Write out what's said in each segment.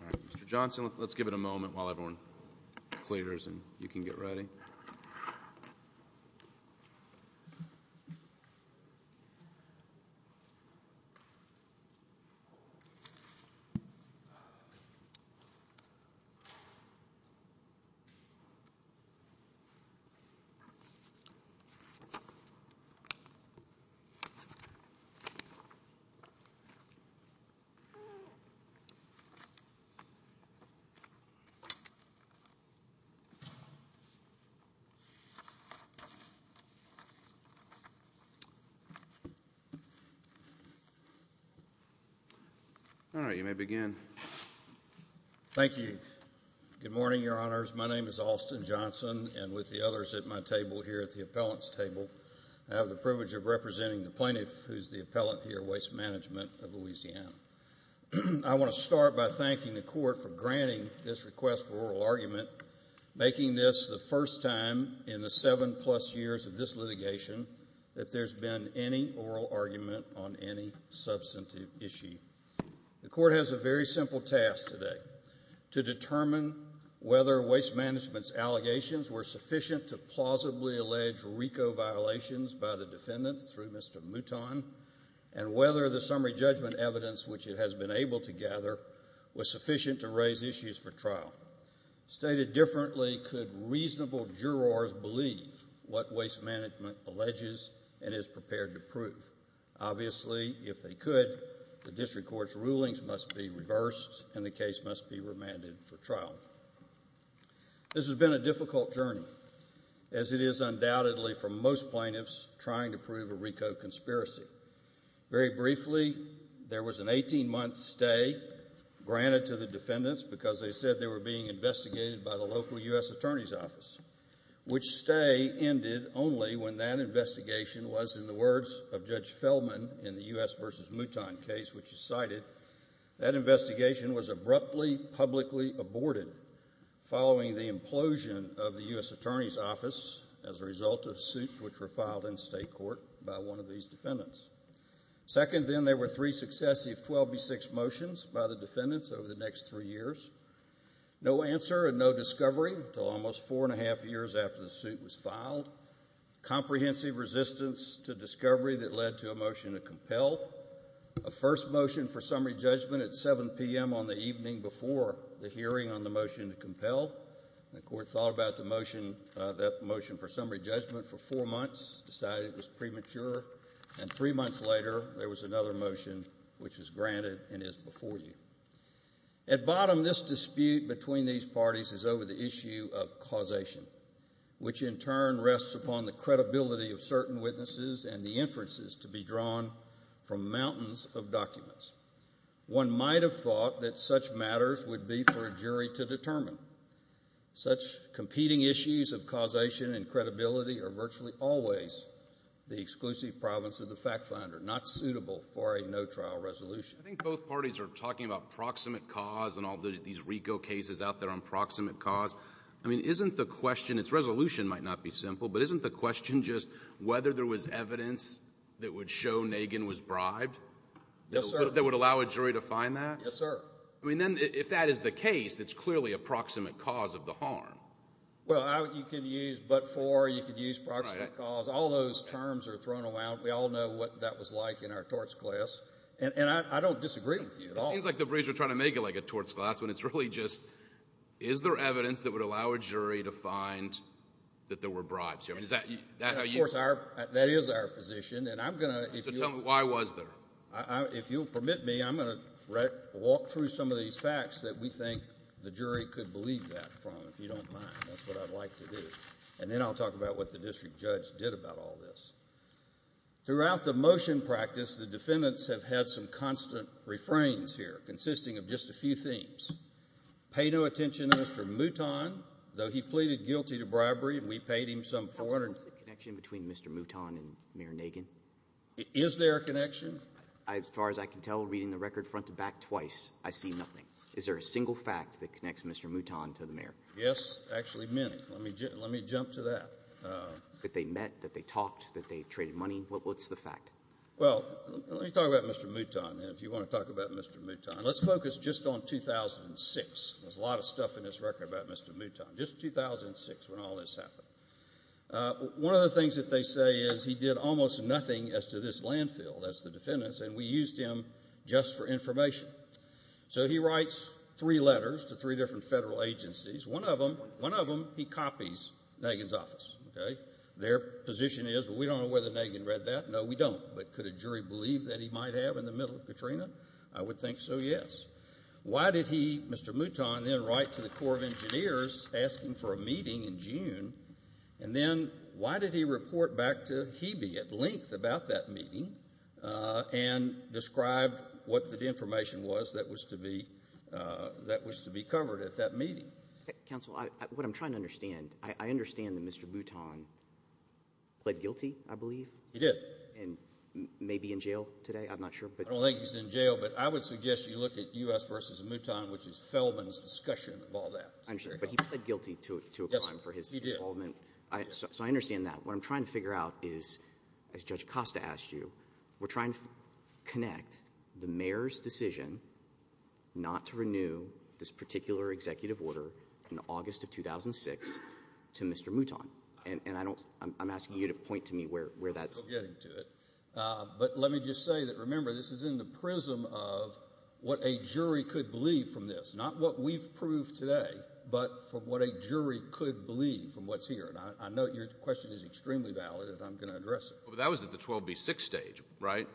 All right, Mr. Johnson, let's give it a moment while everyone clears and you can get ready. All right, you may begin. Thank you. Good morning, Your Honors. My name is Austin Johnson, and with the others at my table here at the Appellant's Table, I have the privilege of representing the plaintiff, who is the appellant here, Waste Management of Louisiana. I want to start by thanking the Court for granting this request for oral argument, making this the first time in the seven-plus years of this litigation that there's been any oral argument on any substantive issue. The Court has a very simple task today, to determine whether Waste Management's allegations were sufficient to plausibly allege RICO violations by the defendant through Mr. Mouton, and whether the summary judgment evidence, which it has been able to gather, was sufficient to raise issues for trial. Stated differently, could reasonable jurors believe what Waste Management alleges and is prepared to prove? Obviously, if they could, the District Court's rulings must be reversed and the case must be remanded for trial. This has been a difficult journey, as it is undoubtedly for most plaintiffs trying to prove a RICO conspiracy. Very briefly, there was an 18-month stay granted to the defendants because they said they were being investigated by the local U.S. Attorney's Office, which stay ended only when that investigation was, in the words of Judge Feldman in the U.S. v. Mouton case which he cited, that investigation was abruptly publicly aborted following the implosion of the U.S. Attorney's Office as a result of suits which were filed in state court by one of these defendants. Second, then, there were three successive 12B6 motions by the defendants over the next three years. No answer and no discovery until almost four and a half years after the suit was filed. Comprehensive resistance to discovery that led to a motion to compel. A first motion for summary judgment at 7 p.m. on the evening before the hearing on the motion to compel. The court thought about the motion, that motion for summary judgment, for four months, decided it was premature, and three months later, there was another motion which was granted and is before you. At bottom, this dispute between these parties is over the issue of causation, which in turn rests upon the credibility of certain witnesses and the inferences to be drawn from mountains of documents. One might have thought that such matters would be for a jury to determine. Such competing issues of causation and credibility are virtually always the exclusive province of the fact finder, not suitable for a no-trial resolution. I think both parties are talking about proximate cause and all these RICO cases out there on proximate cause. I mean, isn't the question, its resolution might not be simple, but isn't the question just whether there was evidence that would show Nagin was bribed? Yes, sir. That would allow a jury to find that? Yes, sir. I mean, then if that is the case, it's clearly a proximate cause of the harm. Well, you could use but for, you could use proximate cause. All those terms are thrown around. We all know what that was like in our torts class. And I don't disagree with you at all. It seems like the Braves are trying to make it like a torts class when it's really just, is there evidence that would allow a jury to find that there were bribes? I mean, is that how you... Of course, that is our position. And I'm going to... So tell me, why was there? If you'll permit me, I'm going to walk through some of these facts that we think the jury could believe that from, if you don't mind, that's what I'd like to do. And then I'll talk about what the district judge did about all this. Throughout the motion practice, the defendants have had some constant refrains here, consisting of just a few things. Pay no attention to Mr. Mouton, though he pleaded guilty to bribery and we paid him some 400... What's the connection between Mr. Mouton and Mayor Nagin? Is there a connection? As far as I can tell, reading the record front to back twice, I see nothing. Is there a single fact that connects Mr. Mouton to the mayor? Yes, actually many. Let me jump to that. That they met, that they talked, that they traded money, what's the fact? Well, let me talk about Mr. Mouton, and if you want to talk about Mr. Mouton, let's focus just on 2006. There's a lot of stuff in this record about Mr. Mouton, just 2006 when all this happened. One of the things that they say is he did almost nothing as to this landfill, that's the defendants, and we used him just for information. So he writes three letters to three different federal agencies. One of them, he copies Nagin's office. Their position is, well, we don't know whether Nagin read that. No, we don't. But could a jury believe that he might have in the middle of Katrina? I would think so, yes. Why did he, Mr. Mouton, then write to the Corps of Engineers asking for a meeting in June and then why did he report back to Hebe at length about that meeting and describe what the information was that was to be covered at that meeting? Counsel, what I'm trying to understand, I understand that Mr. Mouton pled guilty, I believe. He did. And may be in jail today, I'm not sure. I don't think he's in jail, but I would suggest you look at U.S. v. Mouton, which is Feldman's discussion of all that. I understand, but he pled guilty to a crime for his involvement. Yes, he did. So I understand that. What I'm trying to figure out is, as Judge Acosta asked you, we're trying to connect the mayor's decision not to renew this particular executive order in August of 2006 to Mr. Mouton. And I don't — I'm asking you to point to me where that's — I'm still getting to it. But let me just say that, remember, this is in the prism of what a jury could believe from this, not what we've proved today, but from what a jury could believe from what's here. And I know your question is extremely valid, and I'm going to address it. But that was at the 12b-6 stage, right?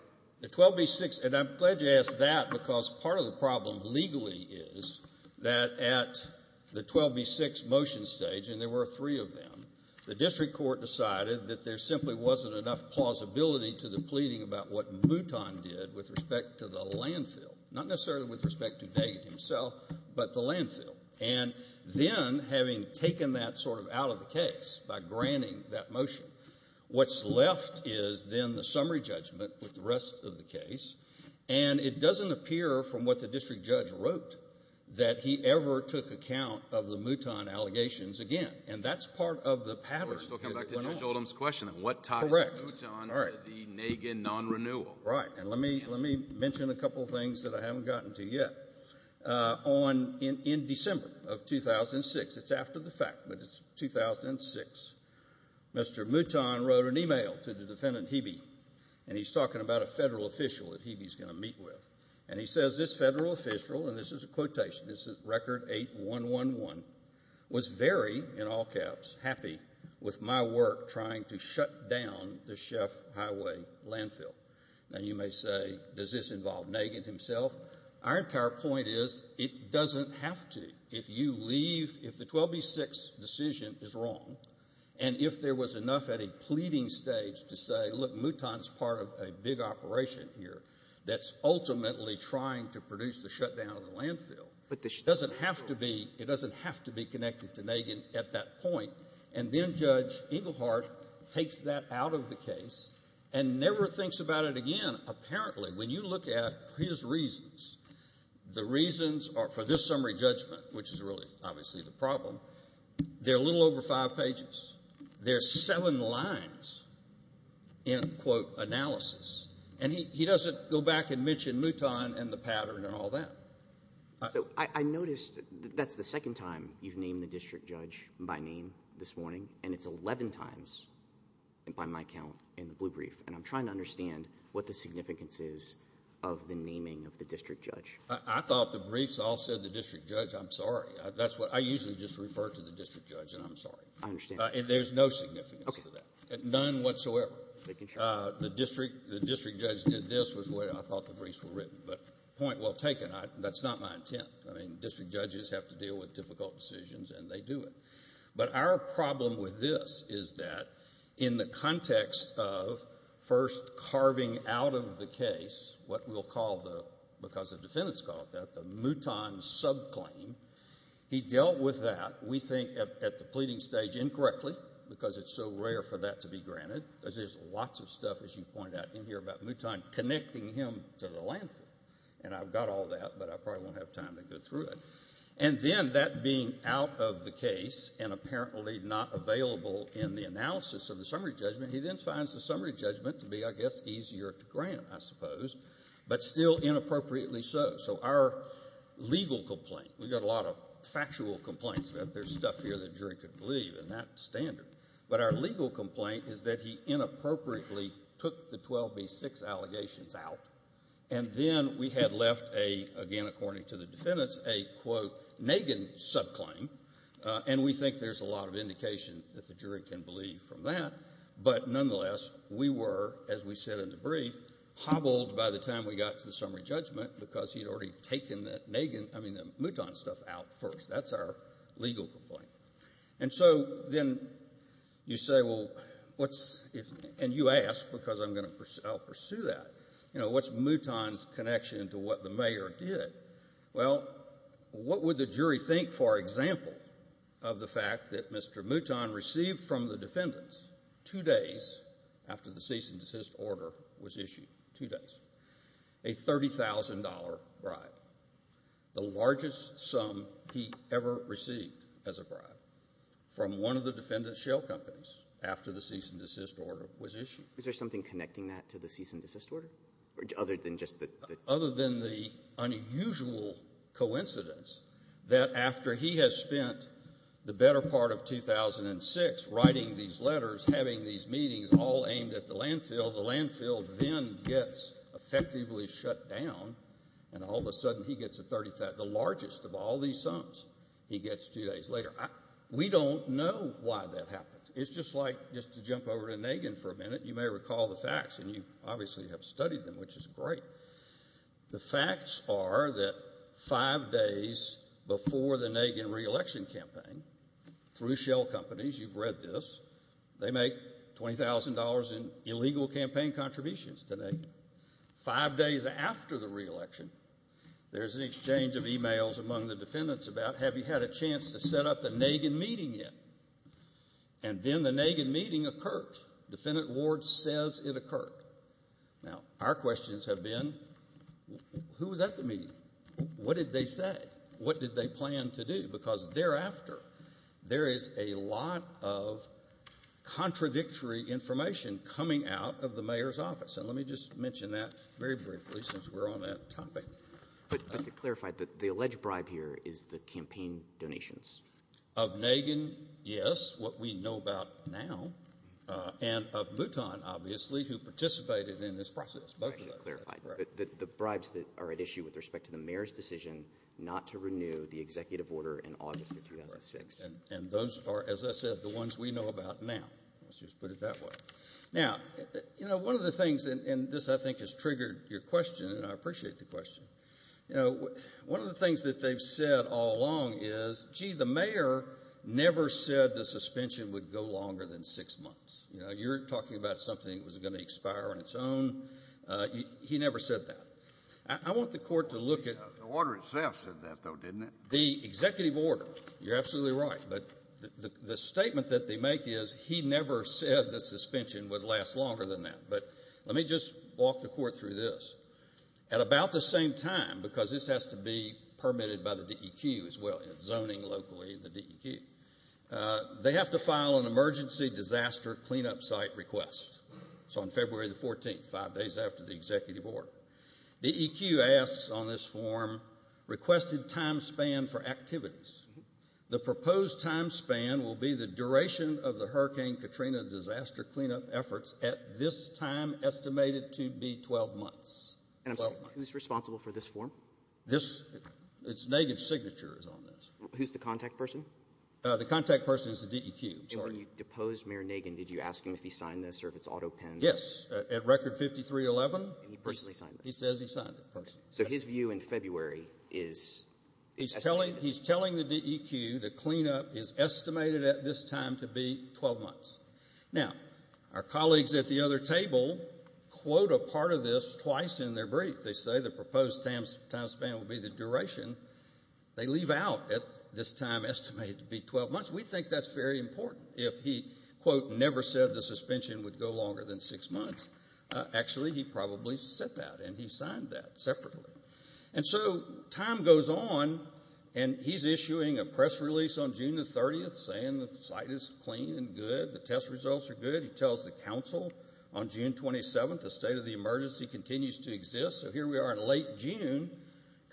The 12b-6 — and I'm glad you asked that, because part of the problem legally is that at the 12b-6 motion stage — and there were three of them — the district court decided that there simply wasn't enough plausibility to the pleading about what Mouton did with respect to the landfill, not necessarily with respect to Daggett himself, but the landfill. And then, having taken that sort of out of the case by granting that motion, what's left is then the summary judgment with the rest of the case, and it doesn't appear from what the district judge wrote that he ever took account of the Mouton allegations again. And that's part of the pattern. We're still coming back to Judge Oldham's question of what tied Mouton to the Nagin non-renewal. Correct. All right. In December of 2006 — it's after the fact, but it's 2006 — Mr. Mouton wrote an email to the defendant, Hebe, and he's talking about a federal official that Hebe's going to meet with. And he says, this federal official — and this is a quotation, this is record 8111 — was very, in all caps, happy with my work trying to shut down the Sheff Highway landfill. Now, you may say, does this involve Nagin himself? Our entire point is, it doesn't have to. If you leave — if the 12b-6 decision is wrong, and if there was enough at a pleading stage to say, look, Mouton's part of a big operation here that's ultimately trying to produce the shutdown of the landfill, it doesn't have to be — it doesn't have to be connected to Nagin at that point. And then Judge Engelhardt takes that out of the case and never thinks about it again. And apparently, when you look at his reasons, the reasons are, for this summary judgment, which is really obviously the problem, they're a little over five pages. There's seven lines in, quote, analysis. And he doesn't go back and mention Mouton and the pattern and all that. I noticed that's the second time you've named the district judge by name this morning, and it's 11 times by my count in the blue brief. And I'm trying to understand what the significance is of the naming of the district judge. I thought the briefs all said the district judge. I'm sorry. That's what — I usually just refer to the district judge, and I'm sorry. I understand. And there's no significance to that. OK. None whatsoever. Making sure. The district — the district judge did this, was what I thought the briefs were written. But point well taken. That's not my intent. I mean, district judges have to deal with difficult decisions, and they do it. But our problem with this is that, in the context of first carving out of the case what we'll call the — because the defendants call it that — the Mouton subclaim, he dealt with that, we think, at the pleading stage incorrectly, because it's so rare for that to be granted, because there's lots of stuff, as you pointed out in here, about Mouton connecting him to the landfill. And I've got all that, but I probably won't have time to go through it. And then, that being out of the case and apparently not available in the analysis of the summary judgment, he then finds the summary judgment to be, I guess, easier to grant, I suppose, but still inappropriately so. So our legal complaint — we've got a lot of factual complaints, but there's stuff here that jury could believe, and that's standard. But our legal complaint is that he inappropriately took the 12B6 allegations out, and then we had left a — again, according to the defendants, a, quote, Nagin subclaim. And we think there's a lot of indication that the jury can believe from that. But nonetheless, we were, as we said in the brief, hobbled by the time we got to the summary judgment, because he had already taken that Nagin — I mean, that Mouton stuff out first. That's our legal complaint. And so, then, you say, well, what's — and you ask, because I'm going to — I'll pursue that — you know, what's Mouton's connection to what the mayor did? Well, what would the jury think, for example, of the fact that Mr. Mouton received from the defendants two days after the cease-and-desist order was issued, two days, a $30,000 bribe, the largest sum he ever received as a bribe, from one of the defendant's shell companies after the cease-and-desist order was issued? Is there something connecting that to the cease-and-desist order, other than just the — Other than the unusual coincidence that after he has spent the better part of 2006 writing these letters, having these meetings, all aimed at the landfill, the landfill then gets effectively shut down, and all of a sudden he gets a $30,000 — the largest of all these sums he gets two days later. We don't know why that happened. It's just like — just to jump over to Nagin for a minute, you may recall the facts, and you obviously have studied them, which is great. The facts are that five days before the Nagin re-election campaign, through shell companies — you've read this — they make $20,000 in illegal campaign contributions to Nagin. Five days after the re-election, there's an exchange of emails among the defendants about have you had a chance to set up the Nagin meeting yet? And then the Nagin meeting occurs. Defendant Ward says it occurred. Now, our questions have been, who was at the meeting? What did they say? What did they plan to do? Because thereafter, there is a lot of contradictory information coming out of the mayor's office. And let me just mention that very briefly, since we're on that topic. But to clarify, the alleged bribe here is the campaign donations. Of Nagin, yes, what we know about now. And of Bhutan, obviously, who participated in this process. That's actually clarified. The bribes that are at issue with respect to the mayor's decision not to renew the executive order in August of 2006. And those are, as I said, the ones we know about now. Let's just put it that way. Now, you know, one of the things, and this, I think, has triggered your question, and I appreciate the question. You know, one of the things that they've said all along is, gee, the mayor never said the suspension would go longer than six months. You know, you're talking about something that was going to expire on its own. He never said that. I want the court to look at the executive order. You're absolutely right. But the statement that they make is, he never said the suspension would last longer than that. But let me just walk the court through this. At about the same time, because this has to be permitted by the DEQ as well, zoning locally, the DEQ, they have to file an emergency disaster cleanup site request. It's on February the 14th, five days after the executive order. The DEQ asks on this form, requested time span for activities. The proposed time span will be the duration of the Hurricane Katrina disaster cleanup efforts at this time estimated to be 12 months. And I'm sorry, who's responsible for this form? This, it's Nagan's signature is on this. Who's the contact person? The contact person is the DEQ. And when you deposed Mayor Nagan, did you ask him if he signed this or if it's auto-penned? Yes, at record 5311. And he personally signed this? He says he signed it personally. So his view in February is estimated? He's telling the DEQ the cleanup is estimated at this time to be 12 months. Now, our colleagues at the other table quote a part of this twice in their brief. They say the proposed time span will be the duration. They leave out at this time estimated to be 12 months. We think that's very important. If he, quote, never said the suspension would go longer than six months, actually he probably said that and he signed that separately. And so time goes on, and he's issuing a press release on June the 30th saying the site is clean and good, the test results are good. He tells the council on June 27th the state of the emergency continues to exist. So here we are in late June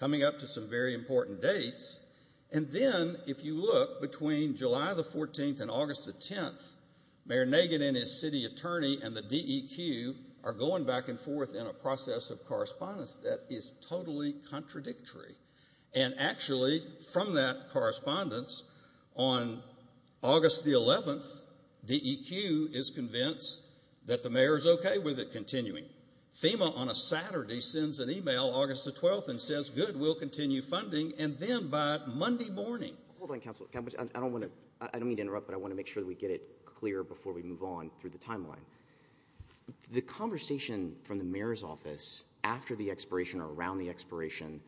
coming up to some very important dates. And then if you look between July the 14th and August the 10th, Mayor Nagan and his city attorney and the DEQ are going back and forth in a process of correspondence that is totally contradictory. And actually from that correspondence on August the 11th, DEQ is convinced that the mayor is okay with it continuing. FEMA on a Saturday sends an email August the 12th and says, good, we'll continue funding, and then by Monday morning. Hold on, Council. I don't mean to interrupt, but I want to make sure that we get it clear before we move on through the timeline. The conversation from the mayor's office after the expiration or around the expiration,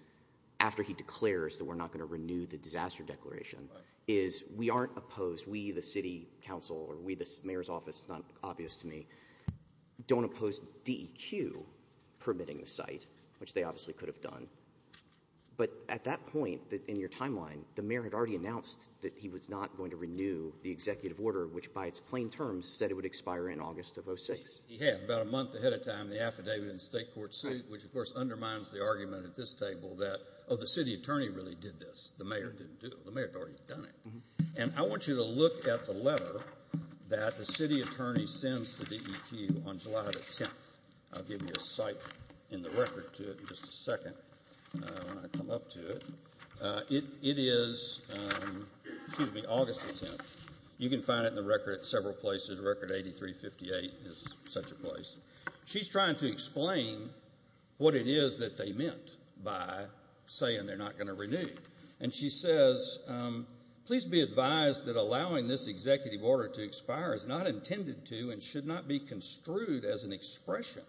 after he declares that we're not going to renew the disaster declaration, is we aren't opposed. We, the city council, or we, the mayor's office, it's not obvious to me, don't oppose DEQ permitting the site, which they obviously could have done. But at that point in your timeline, the mayor had already announced that he was not going to renew the executive order, which by its plain terms said it would expire in August of 2006. He had, about a month ahead of time, the affidavit in the state court suit, which, of course, undermines the argument at this table that, oh, the city attorney really did this. The mayor didn't do it. The mayor had already done it. And I want you to look at the letter that the city attorney sends to DEQ on July the 10th. I'll give you a cite in the record to it in just a second when I come up to it. It is August the 10th. You can find it in the record at several places. Record 8358 is such a place. She's trying to explain what it is that they meant by saying they're not going to renew. And she says, please be advised that allowing this executive order to expire is not intended to and should not be construed as an expression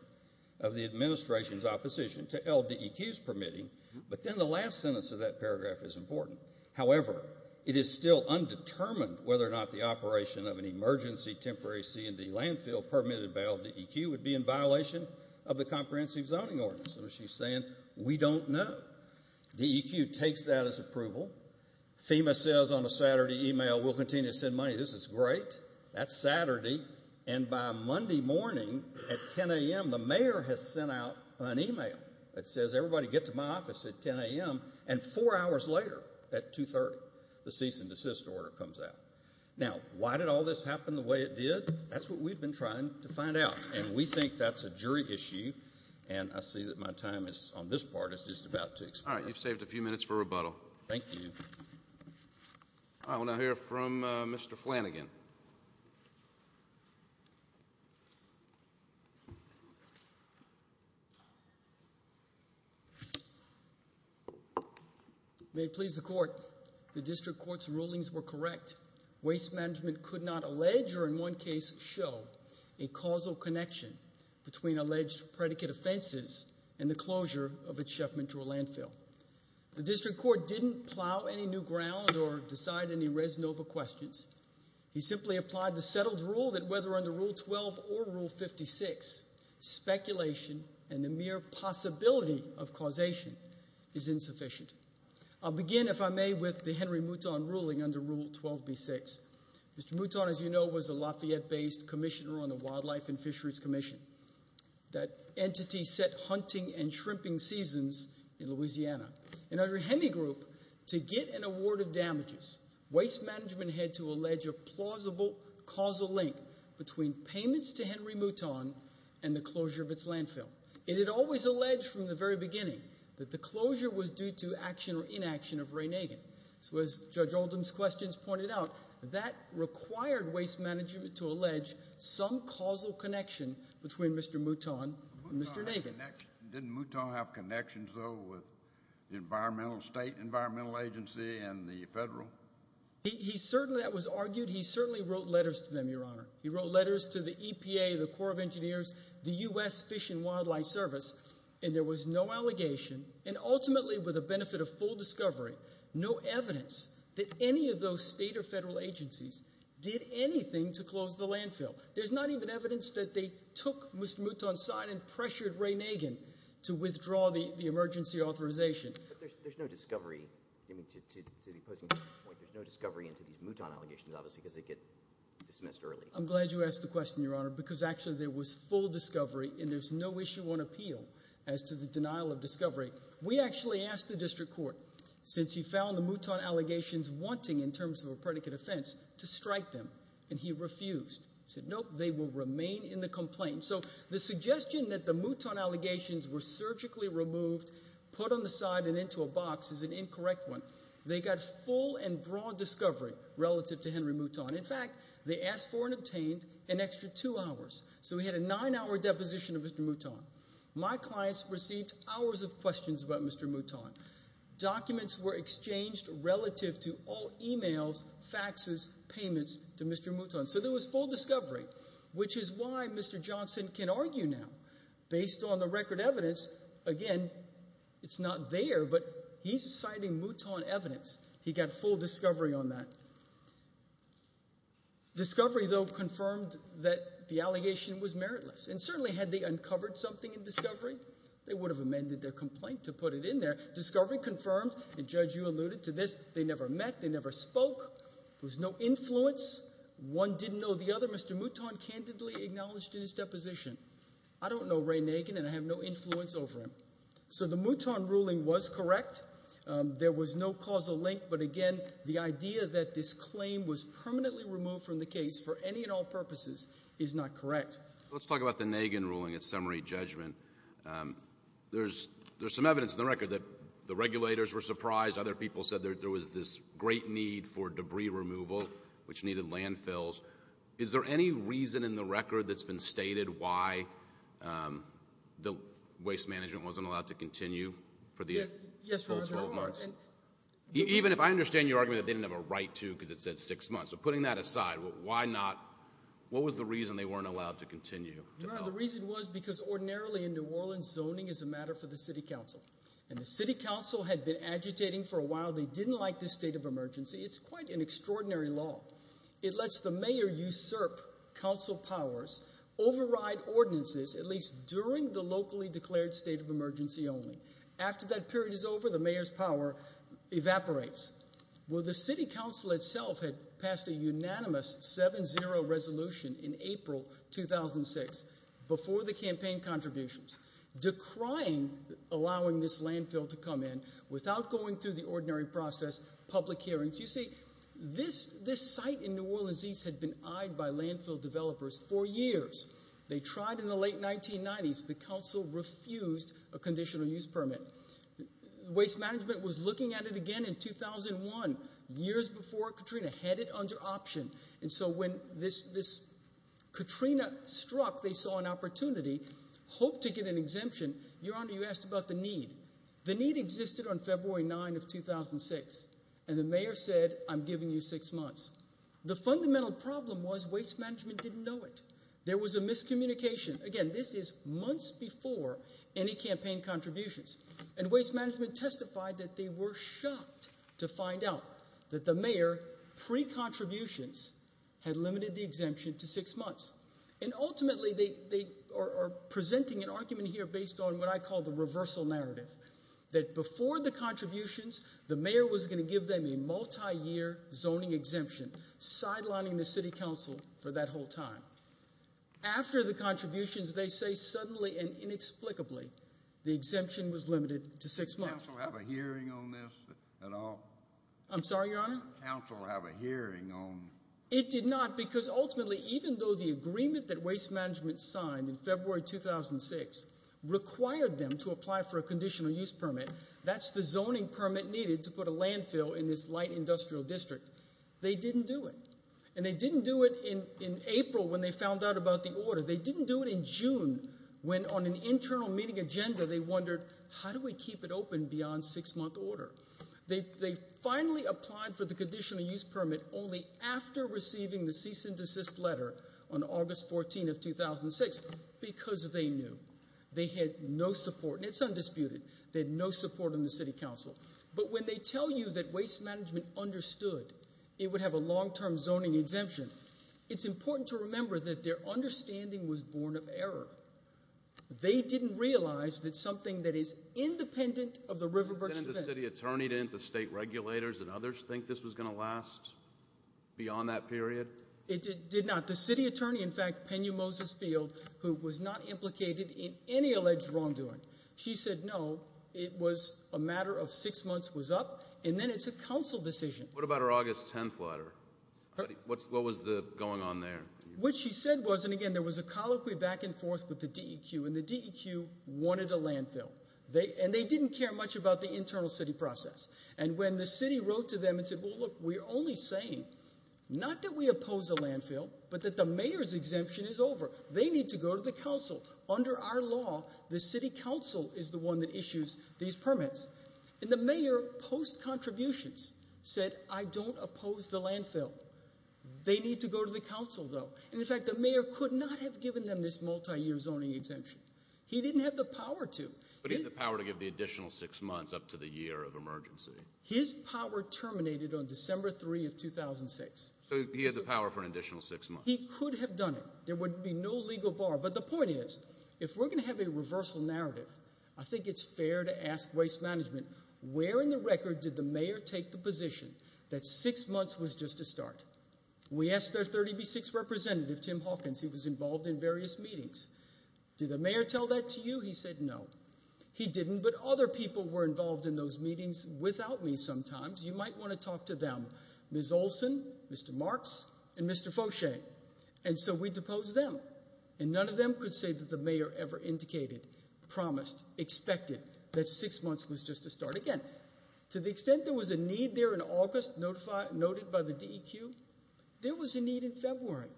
of the administration's opposition to LDEQ's permitting. But then the last sentence of that paragraph is important. However, it is still undetermined whether or not the operation of an emergency temporary C&D landfill permitted by LDEQ would be in violation of the Comprehensive Zoning Ordinance. So she's saying we don't know. DEQ takes that as approval. FEMA says on a Saturday email we'll continue to send money. This is great. That's Saturday. And by Monday morning at 10 a.m., the mayor has sent out an email that says, everybody get to my office at 10 a.m. And four hours later at 2.30, the cease and desist order comes out. Now, why did all this happen the way it did? That's what we've been trying to find out. And we think that's a jury issue. And I see that my time on this part is just about to expire. All right, you've saved a few minutes for rebuttal. Thank you. All right, we'll now hear from Mr. Flanagan. May it please the Court. The district court's rulings were correct. Waste management could not allege or in one case show a causal connection between alleged predicate offenses and the closure of a Chef Mentor landfill. The district court didn't plow any new ground or decide any res nova questions. He simply applied the settled rule that whether under Rule 12 or Rule 56, speculation and the mere possibility of causation is insufficient. I'll begin, if I may, with the Henry Mouton ruling under Rule 12b-6. Mr. Mouton, as you know, was a Lafayette-based commissioner on the Wildlife and Fisheries Commission. That entity set hunting and shrimping seasons in Louisiana. Under Henry group, to get an award of damages, waste management had to allege a plausible causal link between payments to Henry Mouton and the closure of its landfill. It had always alleged from the very beginning that the closure was due to action or inaction of Ray Nagin. So as Judge Oldham's questions pointed out, that required waste management to allege some causal connection between Mr. Mouton and Mr. Nagin. Didn't Mouton have connections, though, with the environmental state, environmental agency, and the federal? That was argued. He certainly wrote letters to them, Your Honor. He wrote letters to the EPA, the Corps of Engineers, the U.S. Fish and Wildlife Service, and there was no allegation and ultimately, with the benefit of full discovery, no evidence that any of those state or federal agencies did anything to close the landfill. There's not even evidence that they took Mr. Mouton's sign and pressured Ray Nagin to withdraw the emergency authorization. But there's no discovery. I mean, to the opposing point, there's no discovery into these Mouton allegations, obviously, because they get dismissed early. I'm glad you asked the question, Your Honor, because actually there was full discovery and there's no issue on appeal as to the denial of discovery. We actually asked the district court, since he found the Mouton allegations wanting, in terms of a predicate offense, to strike them, and he refused. He said, nope, they will remain in the complaint. So the suggestion that the Mouton allegations were surgically removed, put on the side, and into a box is an incorrect one. They got full and broad discovery relative to Henry Mouton. In fact, they asked for and obtained an extra two hours. So we had a nine-hour deposition of Mr. Mouton. My clients received hours of questions about Mr. Mouton. Documents were exchanged relative to all e-mails, faxes, payments to Mr. Mouton. So there was full discovery, which is why Mr. Johnson can argue now. Based on the record evidence, again, it's not there, but he's citing Mouton evidence. He got full discovery on that. Discovery, though, confirmed that the allegation was meritless, and certainly had they uncovered something in discovery, they would have amended their complaint to put it in there. Discovery confirmed, and Judge, you alluded to this, they never met, they never spoke. There was no influence. One didn't know the other. Mr. Mouton candidly acknowledged in his deposition, I don't know Ray Nagin, and I have no influence over him. So the Mouton ruling was correct. There was no causal link, but, again, the idea that this claim was permanently removed from the case for any and all purposes is not correct. Let's talk about the Nagin ruling, its summary judgment. There's some evidence in the record that the regulators were surprised. Other people said there was this great need for debris removal, which needed landfills. Is there any reason in the record that's been stated why the waste management wasn't allowed to continue for the full 12 months? Even if I understand your argument that they didn't have a right to because it said six months. So putting that aside, why not, what was the reason they weren't allowed to continue? The reason was because ordinarily in New Orleans, zoning is a matter for the city council. And the city council had been agitating for a while. They didn't like this state of emergency. It's quite an extraordinary law. It lets the mayor usurp council powers, override ordinances, at least during the locally declared state of emergency only. After that period is over, the mayor's power evaporates. Well, the city council itself had passed a unanimous 7-0 resolution in April 2006 before the campaign contributions, decrying allowing this landfill to come in without going through the ordinary process, public hearings. You see, this site in New Orleans had been eyed by landfill developers for years. They tried in the late 1990s. The council refused a conditional use permit. Waste management was looking at it again in 2001, years before Katrina, had it under option. And so when this Katrina struck, they saw an opportunity, hoped to get an exemption. Your Honor, you asked about the need. The need existed on February 9 of 2006, and the mayor said, I'm giving you six months. The fundamental problem was waste management didn't know it. There was a miscommunication. Again, this is months before any campaign contributions. And waste management testified that they were shocked to find out that the mayor, pre-contributions, had limited the exemption to six months. And ultimately, they are presenting an argument here based on what I call the reversal narrative, that before the contributions, the mayor was going to give them a multi-year zoning exemption, sidelining the city council for that whole time. After the contributions, they say suddenly and inexplicably, the exemption was limited to six months. Did council have a hearing on this at all? I'm sorry, Your Honor? Did council have a hearing on this? It did not, because ultimately, even though the agreement that waste management signed in February 2006 required them to apply for a conditional use permit, that's the zoning permit needed to put a landfill in this light industrial district, they didn't do it. And they didn't do it in April when they found out about the order. They didn't do it in June when, on an internal meeting agenda, they wondered, how do we keep it open beyond six-month order? They finally applied for the conditional use permit only after receiving the cease and desist letter on August 14 of 2006 because they knew. They had no support, and it's undisputed, they had no support in the city council. But when they tell you that waste management understood it would have a long-term zoning exemption, it's important to remember that their understanding was born of error. They didn't realize that something that is independent of the Riverbirch event. Didn't the city attorney, didn't the state regulators and others think this was going to last beyond that period? It did not. The city attorney, in fact, Peña Moses-Field, who was not implicated in any alleged wrongdoing, she said, no, it was a matter of six months was up, and then it's a council decision. What about her August 10th letter? What was going on there? What she said was, and again, there was a colloquy back and forth with the DEQ, and the DEQ wanted a landfill. And they didn't care much about the internal city process. And when the city wrote to them and said, well, look, we're only saying not that we oppose a landfill, but that the mayor's exemption is over. They need to go to the council. Under our law, the city council is the one that issues these permits. And the mayor, post-contributions, said, I don't oppose the landfill. They need to go to the council, though. And, in fact, the mayor could not have given them this multiyear zoning exemption. He didn't have the power to. But he has the power to give the additional six months up to the year of emergency. His power terminated on December 3 of 2006. So he has the power for an additional six months. He could have done it. There would be no legal bar. But the point is, if we're going to have a reversal narrative, I think it's fair to ask waste management, where in the record did the mayor take the position that six months was just a start? We asked their 36th representative, Tim Hawkins. He was involved in various meetings. Did the mayor tell that to you? He said no. He didn't, but other people were involved in those meetings without me sometimes. You might want to talk to them, Ms. Olson, Mr. Marks, and Mr. Fauche. And so we deposed them, and none of them could say that the mayor ever indicated, promised, expected that six months was just a start again. To the extent there was a need there in August noted by the DEQ, there was a need in February,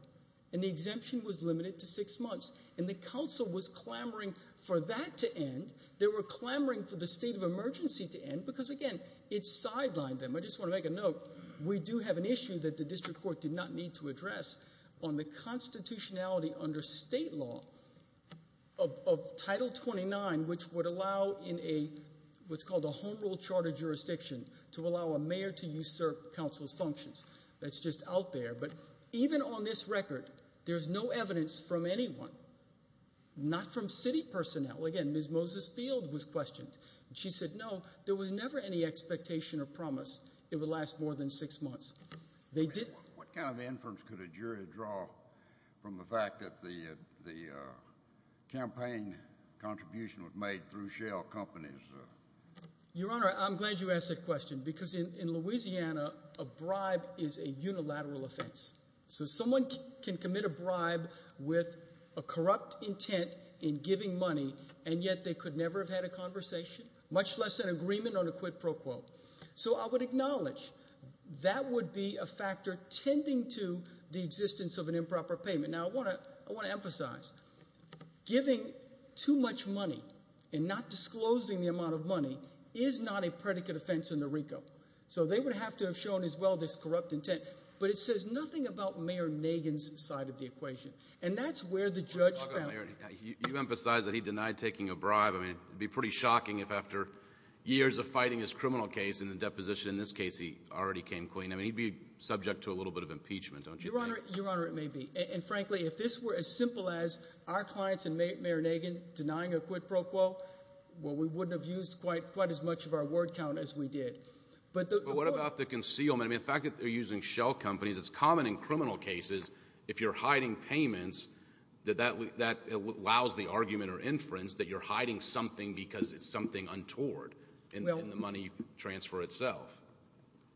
and the exemption was limited to six months. And the council was clamoring for that to end. They were clamoring for the state of emergency to end because, again, it sidelined them. I just want to make a note. We do have an issue that the district court did not need to address on the constitutionality under state law of Title 29, which would allow in what's called a home rule charter jurisdiction to allow a mayor to usurp council's functions. That's just out there. But even on this record, there's no evidence from anyone, not from city personnel. Again, Ms. Moses-Field was questioned. She said, no, there was never any expectation or promise it would last more than six months. What kind of inference could a jury draw from the fact that the campaign contribution was made through shell companies? Your Honor, I'm glad you asked that question because in Louisiana, a bribe is a unilateral offense. So someone can commit a bribe with a corrupt intent in giving money, and yet they could never have had a conversation, much less an agreement on a quid pro quo. So I would acknowledge that would be a factor tending to the existence of an improper payment. Now, I want to emphasize giving too much money and not disclosing the amount of money is not a predicate offense in the RICO. So they would have to have shown as well this corrupt intent. But it says nothing about Mayor Nagin's side of the equation. And that's where the judge found it. You emphasize that he denied taking a bribe. I mean, it would be pretty shocking if after years of fighting his criminal case in the deposition, in this case he already came clean. I mean, he'd be subject to a little bit of impeachment, don't you think? Your Honor, it may be. And frankly, if this were as simple as our clients and Mayor Nagin denying a quid pro quo, well, we wouldn't have used quite as much of our word count as we did. But what about the concealment? I mean, the fact that they're using shell companies, it's common in criminal cases if you're hiding payments, that that allows the argument or inference that you're hiding something because it's something untoward in the money transfer itself.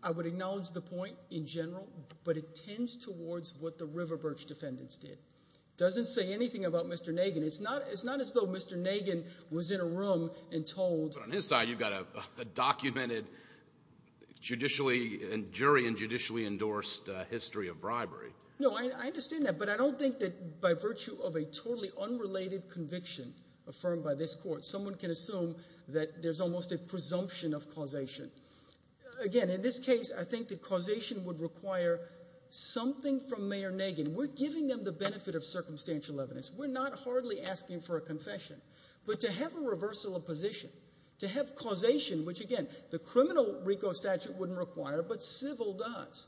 I would acknowledge the point in general, but it tends towards what the River Birch defendants did. It doesn't say anything about Mr. Nagin. It's not as though Mr. Nagin was in a room and told — No, I understand that. But I don't think that by virtue of a totally unrelated conviction affirmed by this court, someone can assume that there's almost a presumption of causation. Again, in this case, I think that causation would require something from Mayor Nagin. We're giving them the benefit of circumstantial evidence. We're not hardly asking for a confession. But to have a reversal of position, to have causation, which again, the criminal RICO statute wouldn't require, but civil does,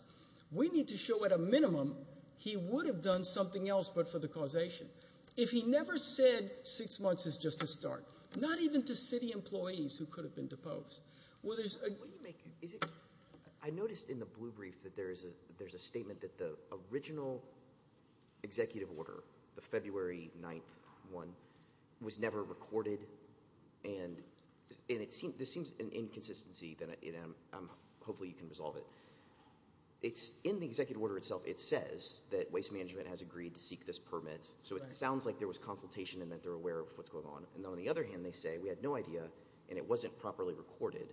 we need to show at a minimum he would have done something else but for the causation. If he never said six months is just a start, not even to city employees who could have been deposed. Well, there's a — I noticed in the blue brief that there's a statement that the original executive order, the February 9th one, was never recorded. And this seems an inconsistency, and hopefully you can resolve it. In the executive order itself, it says that Waste Management has agreed to seek this permit. So it sounds like there was consultation and that they're aware of what's going on. And on the other hand, they say we had no idea and it wasn't properly recorded.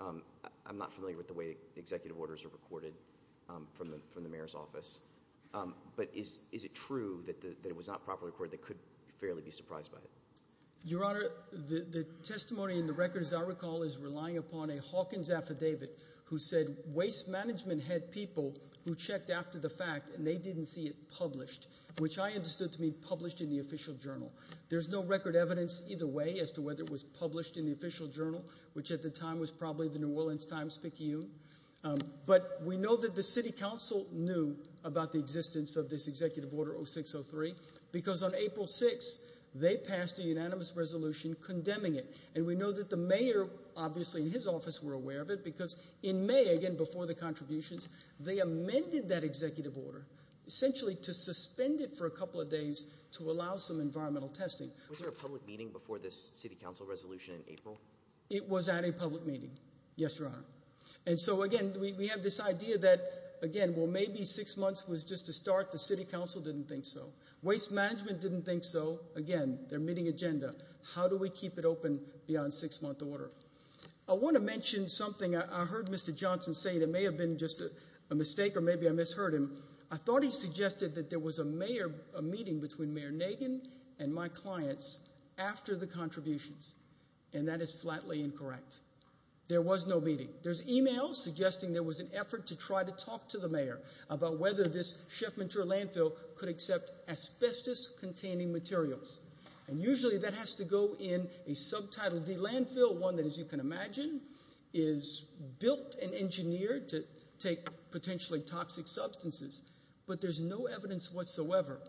I'm not familiar with the way executive orders are recorded from the mayor's office. But is it true that it was not properly recorded? They could fairly be surprised by it. Your Honor, the testimony in the record, as I recall, is relying upon a Hawkins affidavit who said Waste Management had people who checked after the fact and they didn't see it published, which I understood to mean published in the official journal. There's no record evidence either way as to whether it was published in the official journal, which at the time was probably the New Orleans Times-Picayune. But we know that the city council knew about the existence of this executive order 0603 because on April 6, they passed a unanimous resolution condemning it. And we know that the mayor, obviously, in his office were aware of it because in May, again, before the contributions, they amended that executive order, essentially to suspend it for a couple of days to allow some environmental testing. Was there a public meeting before this city council resolution in April? It was at a public meeting, yes, Your Honor. And so, again, we have this idea that, again, well, maybe six months was just a start. The city council didn't think so. Waste Management didn't think so. Again, they're meeting agenda. How do we keep it open beyond six-month order? I want to mention something I heard Mr. Johnson say that may have been just a mistake or maybe I misheard him. I thought he suggested that there was a meeting between Mayor Nagin and my clients after the contributions, and that is flatly incorrect. There was no meeting. There's e-mails suggesting there was an effort to try to talk to the mayor about whether this Chef Menteur landfill could accept asbestos-containing materials. And usually that has to go in a subtitled landfill, one that, as you can imagine, is built and engineered to take potentially toxic substances. But there's no evidence whatsoever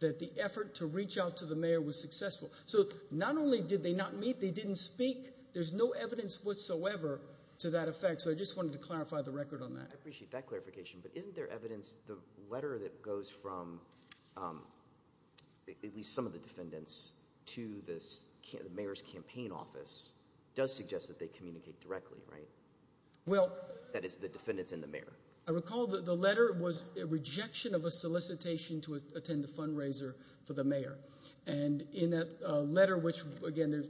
that the effort to reach out to the mayor was successful. So not only did they not meet, they didn't speak. There's no evidence whatsoever to that effect. So I just wanted to clarify the record on that. I appreciate that clarification. But isn't there evidence, the letter that goes from at least some of the defendants to the mayor's campaign office does suggest that they communicate directly, right? That is, the defendants and the mayor. I recall the letter was a rejection of a solicitation to attend the fundraiser for the mayor. And in that letter, which, again, as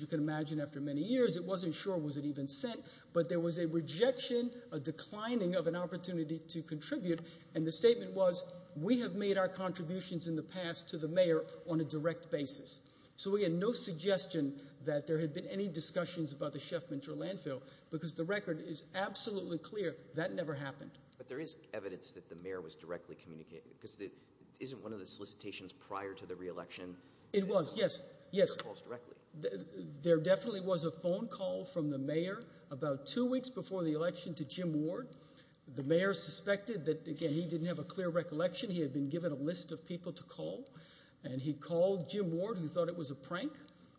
you can imagine after many years, it wasn't sure was it even sent. But there was a rejection, a declining of an opportunity to contribute. And the statement was, we have made our contributions in the past to the mayor on a direct basis. So we had no suggestion that there had been any discussions about the Chef Menteur landfill because the record is absolutely clear that never happened. But there is evidence that the mayor was directly communicating because it isn't one of the solicitations prior to the re-election. It was, yes, yes. There definitely was a phone call from the mayor about two weeks before the election to Jim Ward. The mayor suspected that, again, he didn't have a clear recollection. He had been given a list of people to call. And he called Jim Ward who thought it was a prank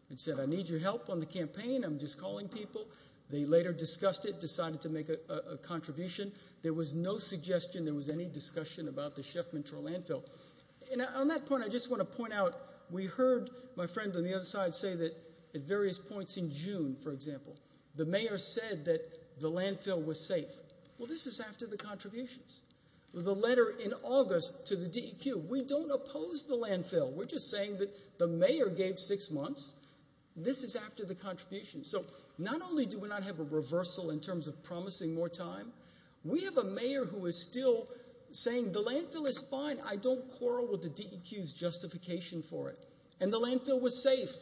and said, I need your help on the campaign. I'm just calling people. They later discussed it, decided to make a contribution. There was no suggestion there was any discussion about the Chef Menteur landfill. And on that point, I just want to point out, we heard my friend on the other side say that at various points in June, for example, the mayor said that the landfill was safe. Well, this is after the contributions. The letter in August to the DEQ, we don't oppose the landfill. We're just saying that the mayor gave six months. This is after the contributions. So not only do we not have a reversal in terms of promising more time, we have a mayor who is still saying the landfill is fine. I don't quarrel with the DEQ's justification for it. And the landfill was safe.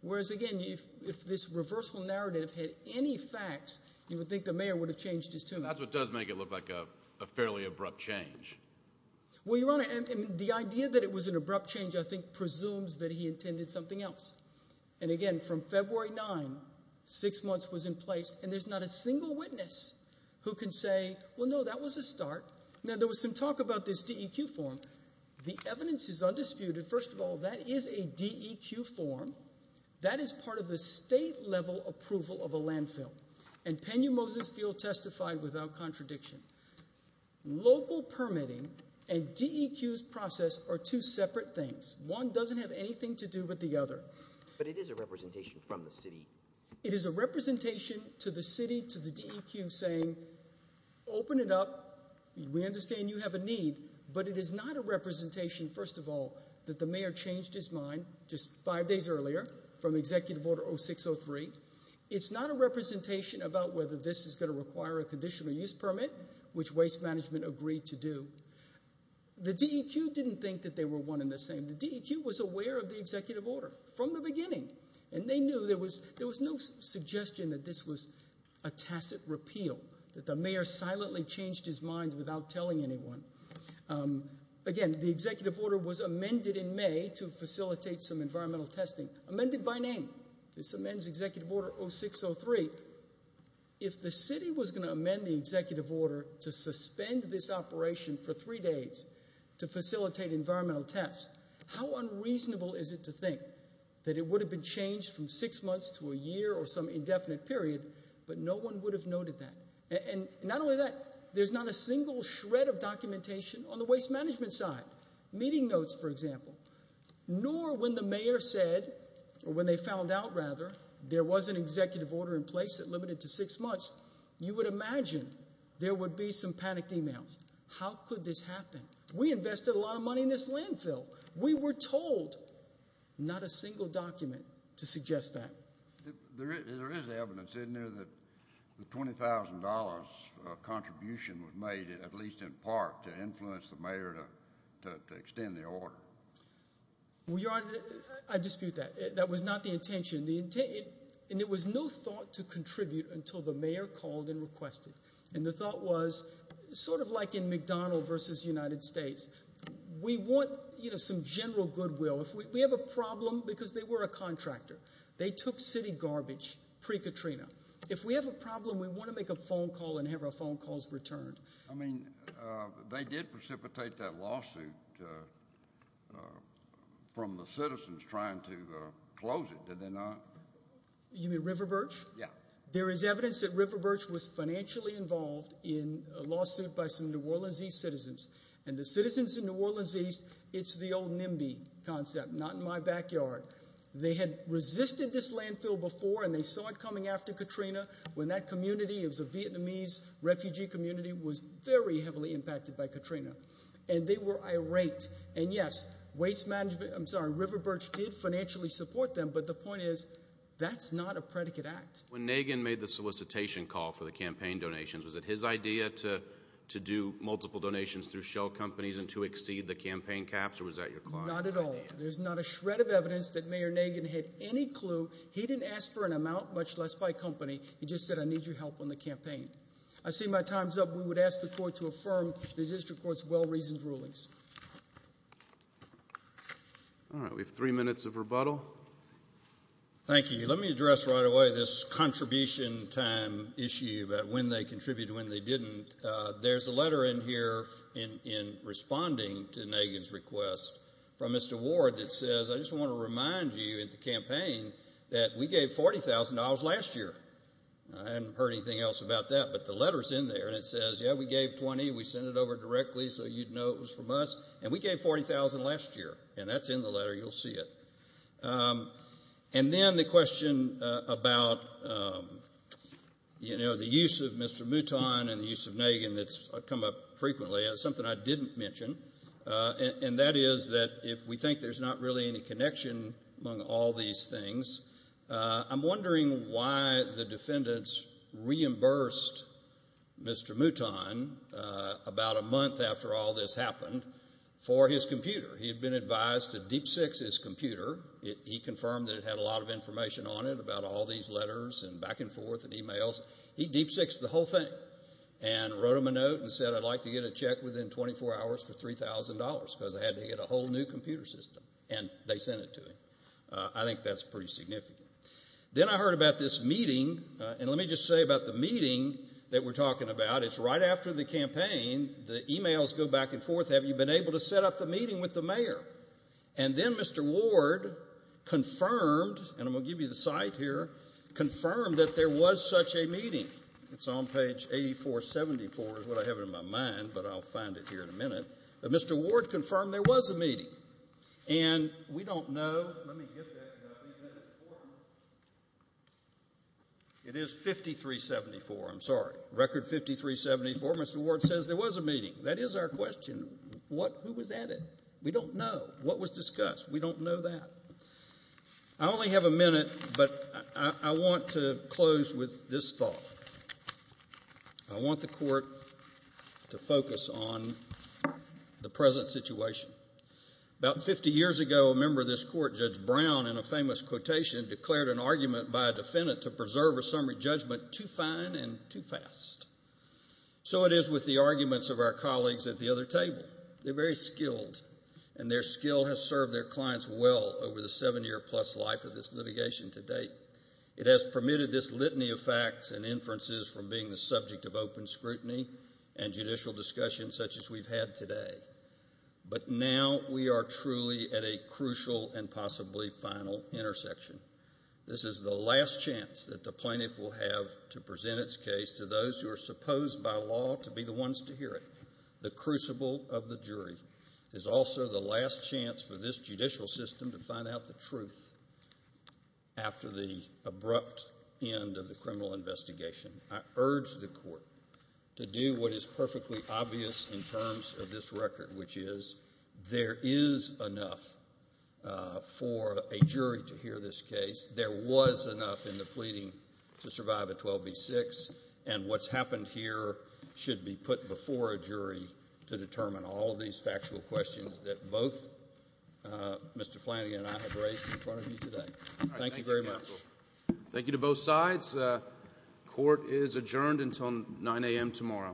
Whereas, again, if this reversal narrative had any facts, you would think the mayor would have changed his tune. That's what does make it look like a fairly abrupt change. Well, Your Honor, the idea that it was an abrupt change, I think, presumes that he intended something else. And, again, from February 9, six months was in place, and there's not a single witness who can say, well, no, that was a start. Now, there was some talk about this DEQ form. The evidence is undisputed. And, first of all, that is a DEQ form. That is part of the state-level approval of a landfill. And Peña-Moses Field testified without contradiction. Local permitting and DEQ's process are two separate things. One doesn't have anything to do with the other. But it is a representation from the city. It is a representation to the city, to the DEQ, saying, open it up. We understand you have a need. But it is not a representation, first of all, that the mayor changed his mind just five days earlier from Executive Order 0603. It's not a representation about whether this is going to require a conditional use permit, which waste management agreed to do. The DEQ didn't think that they were one and the same. The DEQ was aware of the executive order from the beginning, and they knew there was no suggestion that this was a tacit repeal, that the mayor silently changed his mind without telling anyone. Again, the executive order was amended in May to facilitate some environmental testing, amended by name. This amends Executive Order 0603. If the city was going to amend the executive order to suspend this operation for three days to facilitate environmental tests, how unreasonable is it to think that it would have been changed from six months to a year or some indefinite period, but no one would have noted that? And not only that, there's not a single shred of documentation on the waste management side. Meeting notes, for example. Nor when the mayor said, or when they found out, rather, there was an executive order in place that limited to six months, you would imagine there would be some panicked emails. How could this happen? We invested a lot of money in this landfill. We were told. Not a single document to suggest that. There is evidence, isn't there, that the $20,000 contribution was made, at least in part, to influence the mayor to extend the order. Well, Your Honor, I dispute that. That was not the intention. And there was no thought to contribute until the mayor called and requested. And the thought was, sort of like in McDonald v. United States, we want some general goodwill. We have a problem because they were a contractor. They took city garbage pre-Katrina. If we have a problem, we want to make a phone call and have our phone calls returned. I mean, they did precipitate that lawsuit from the citizens trying to close it, did they not? You mean River Birch? Yeah. There is evidence that River Birch was financially involved in a lawsuit by some New Orleans East citizens. And the citizens in New Orleans East, it's the old NIMBY concept, not in my backyard. They had resisted this landfill before, and they saw it coming after Katrina when that community, it was a Vietnamese refugee community, was very heavily impacted by Katrina. And they were irate. And, yes, River Birch did financially support them, but the point is that's not a predicate act. When Nagin made the solicitation call for the campaign donations, was it his idea to do multiple donations through shell companies and to exceed the campaign caps, or was that your client's idea? Not at all. There's not a shred of evidence that Mayor Nagin had any clue. He didn't ask for an amount, much less by company. He just said, I need your help on the campaign. I see my time's up. We would ask the court to affirm the district court's well-reasoned rulings. All right. We have three minutes of rebuttal. Thank you. Let me address right away this contribution time issue about when they contributed and when they didn't. And there's a letter in here in responding to Nagin's request from Mr. Ward that says, I just want to remind you at the campaign that we gave $40,000 last year. I hadn't heard anything else about that, but the letter's in there. And it says, yeah, we gave $20,000. We sent it over directly so you'd know it was from us. And we gave $40,000 last year. And that's in the letter. You'll see it. And then the question about the use of Mr. Mouton and the use of Nagin that's come up frequently, something I didn't mention, and that is that if we think there's not really any connection among all these things, I'm wondering why the defendants reimbursed Mr. Mouton about a month after all this happened for his computer. He had been advised to deep-six his computer. He confirmed that it had a lot of information on it about all these letters and back and forth and e-mails. He deep-sixed the whole thing and wrote him a note and said, I'd like to get a check within 24 hours for $3,000 because I had to get a whole new computer system. And they sent it to him. I think that's pretty significant. Then I heard about this meeting. And let me just say about the meeting that we're talking about, it's right after the campaign, the e-mails go back and forth. Have you been able to set up the meeting with the mayor? And then Mr. Ward confirmed, and I'm going to give you the site here, confirmed that there was such a meeting. It's on page 8474 is what I have in my mind, but I'll find it here in a minute. But Mr. Ward confirmed there was a meeting. And we don't know. It is 5374, I'm sorry, record 5374. Mr. Ward says there was a meeting. That is our question. Who was at it? We don't know. What was discussed? We don't know that. I only have a minute, but I want to close with this thought. I want the court to focus on the present situation. About 50 years ago, a member of this court, Judge Brown, in a famous quotation declared an argument by a defendant to preserve a summary judgment too fine and too fast. So it is with the arguments of our colleagues at the other table. They're very skilled, and their skill has served their clients well over the seven-year-plus life of this litigation to date. It has permitted this litany of facts and inferences from being the subject of open scrutiny and judicial discussion such as we've had today. But now we are truly at a crucial and possibly final intersection. This is the last chance that the plaintiff will have to present its case to those who are supposed by law to be the ones to hear it. The crucible of the jury is also the last chance for this judicial system to find out the truth after the abrupt end of the criminal investigation. I urge the court to do what is perfectly obvious in terms of this record, which is there is enough for a jury to hear this case. There was enough in the pleading to survive a 12 v. 6, and what's happened here should be put before a jury to determine all of these factual questions that both Mr. Flanagan and I have raised in front of you today. Thank you very much. Thank you to both sides. Court is adjourned until 9 a.m. tomorrow.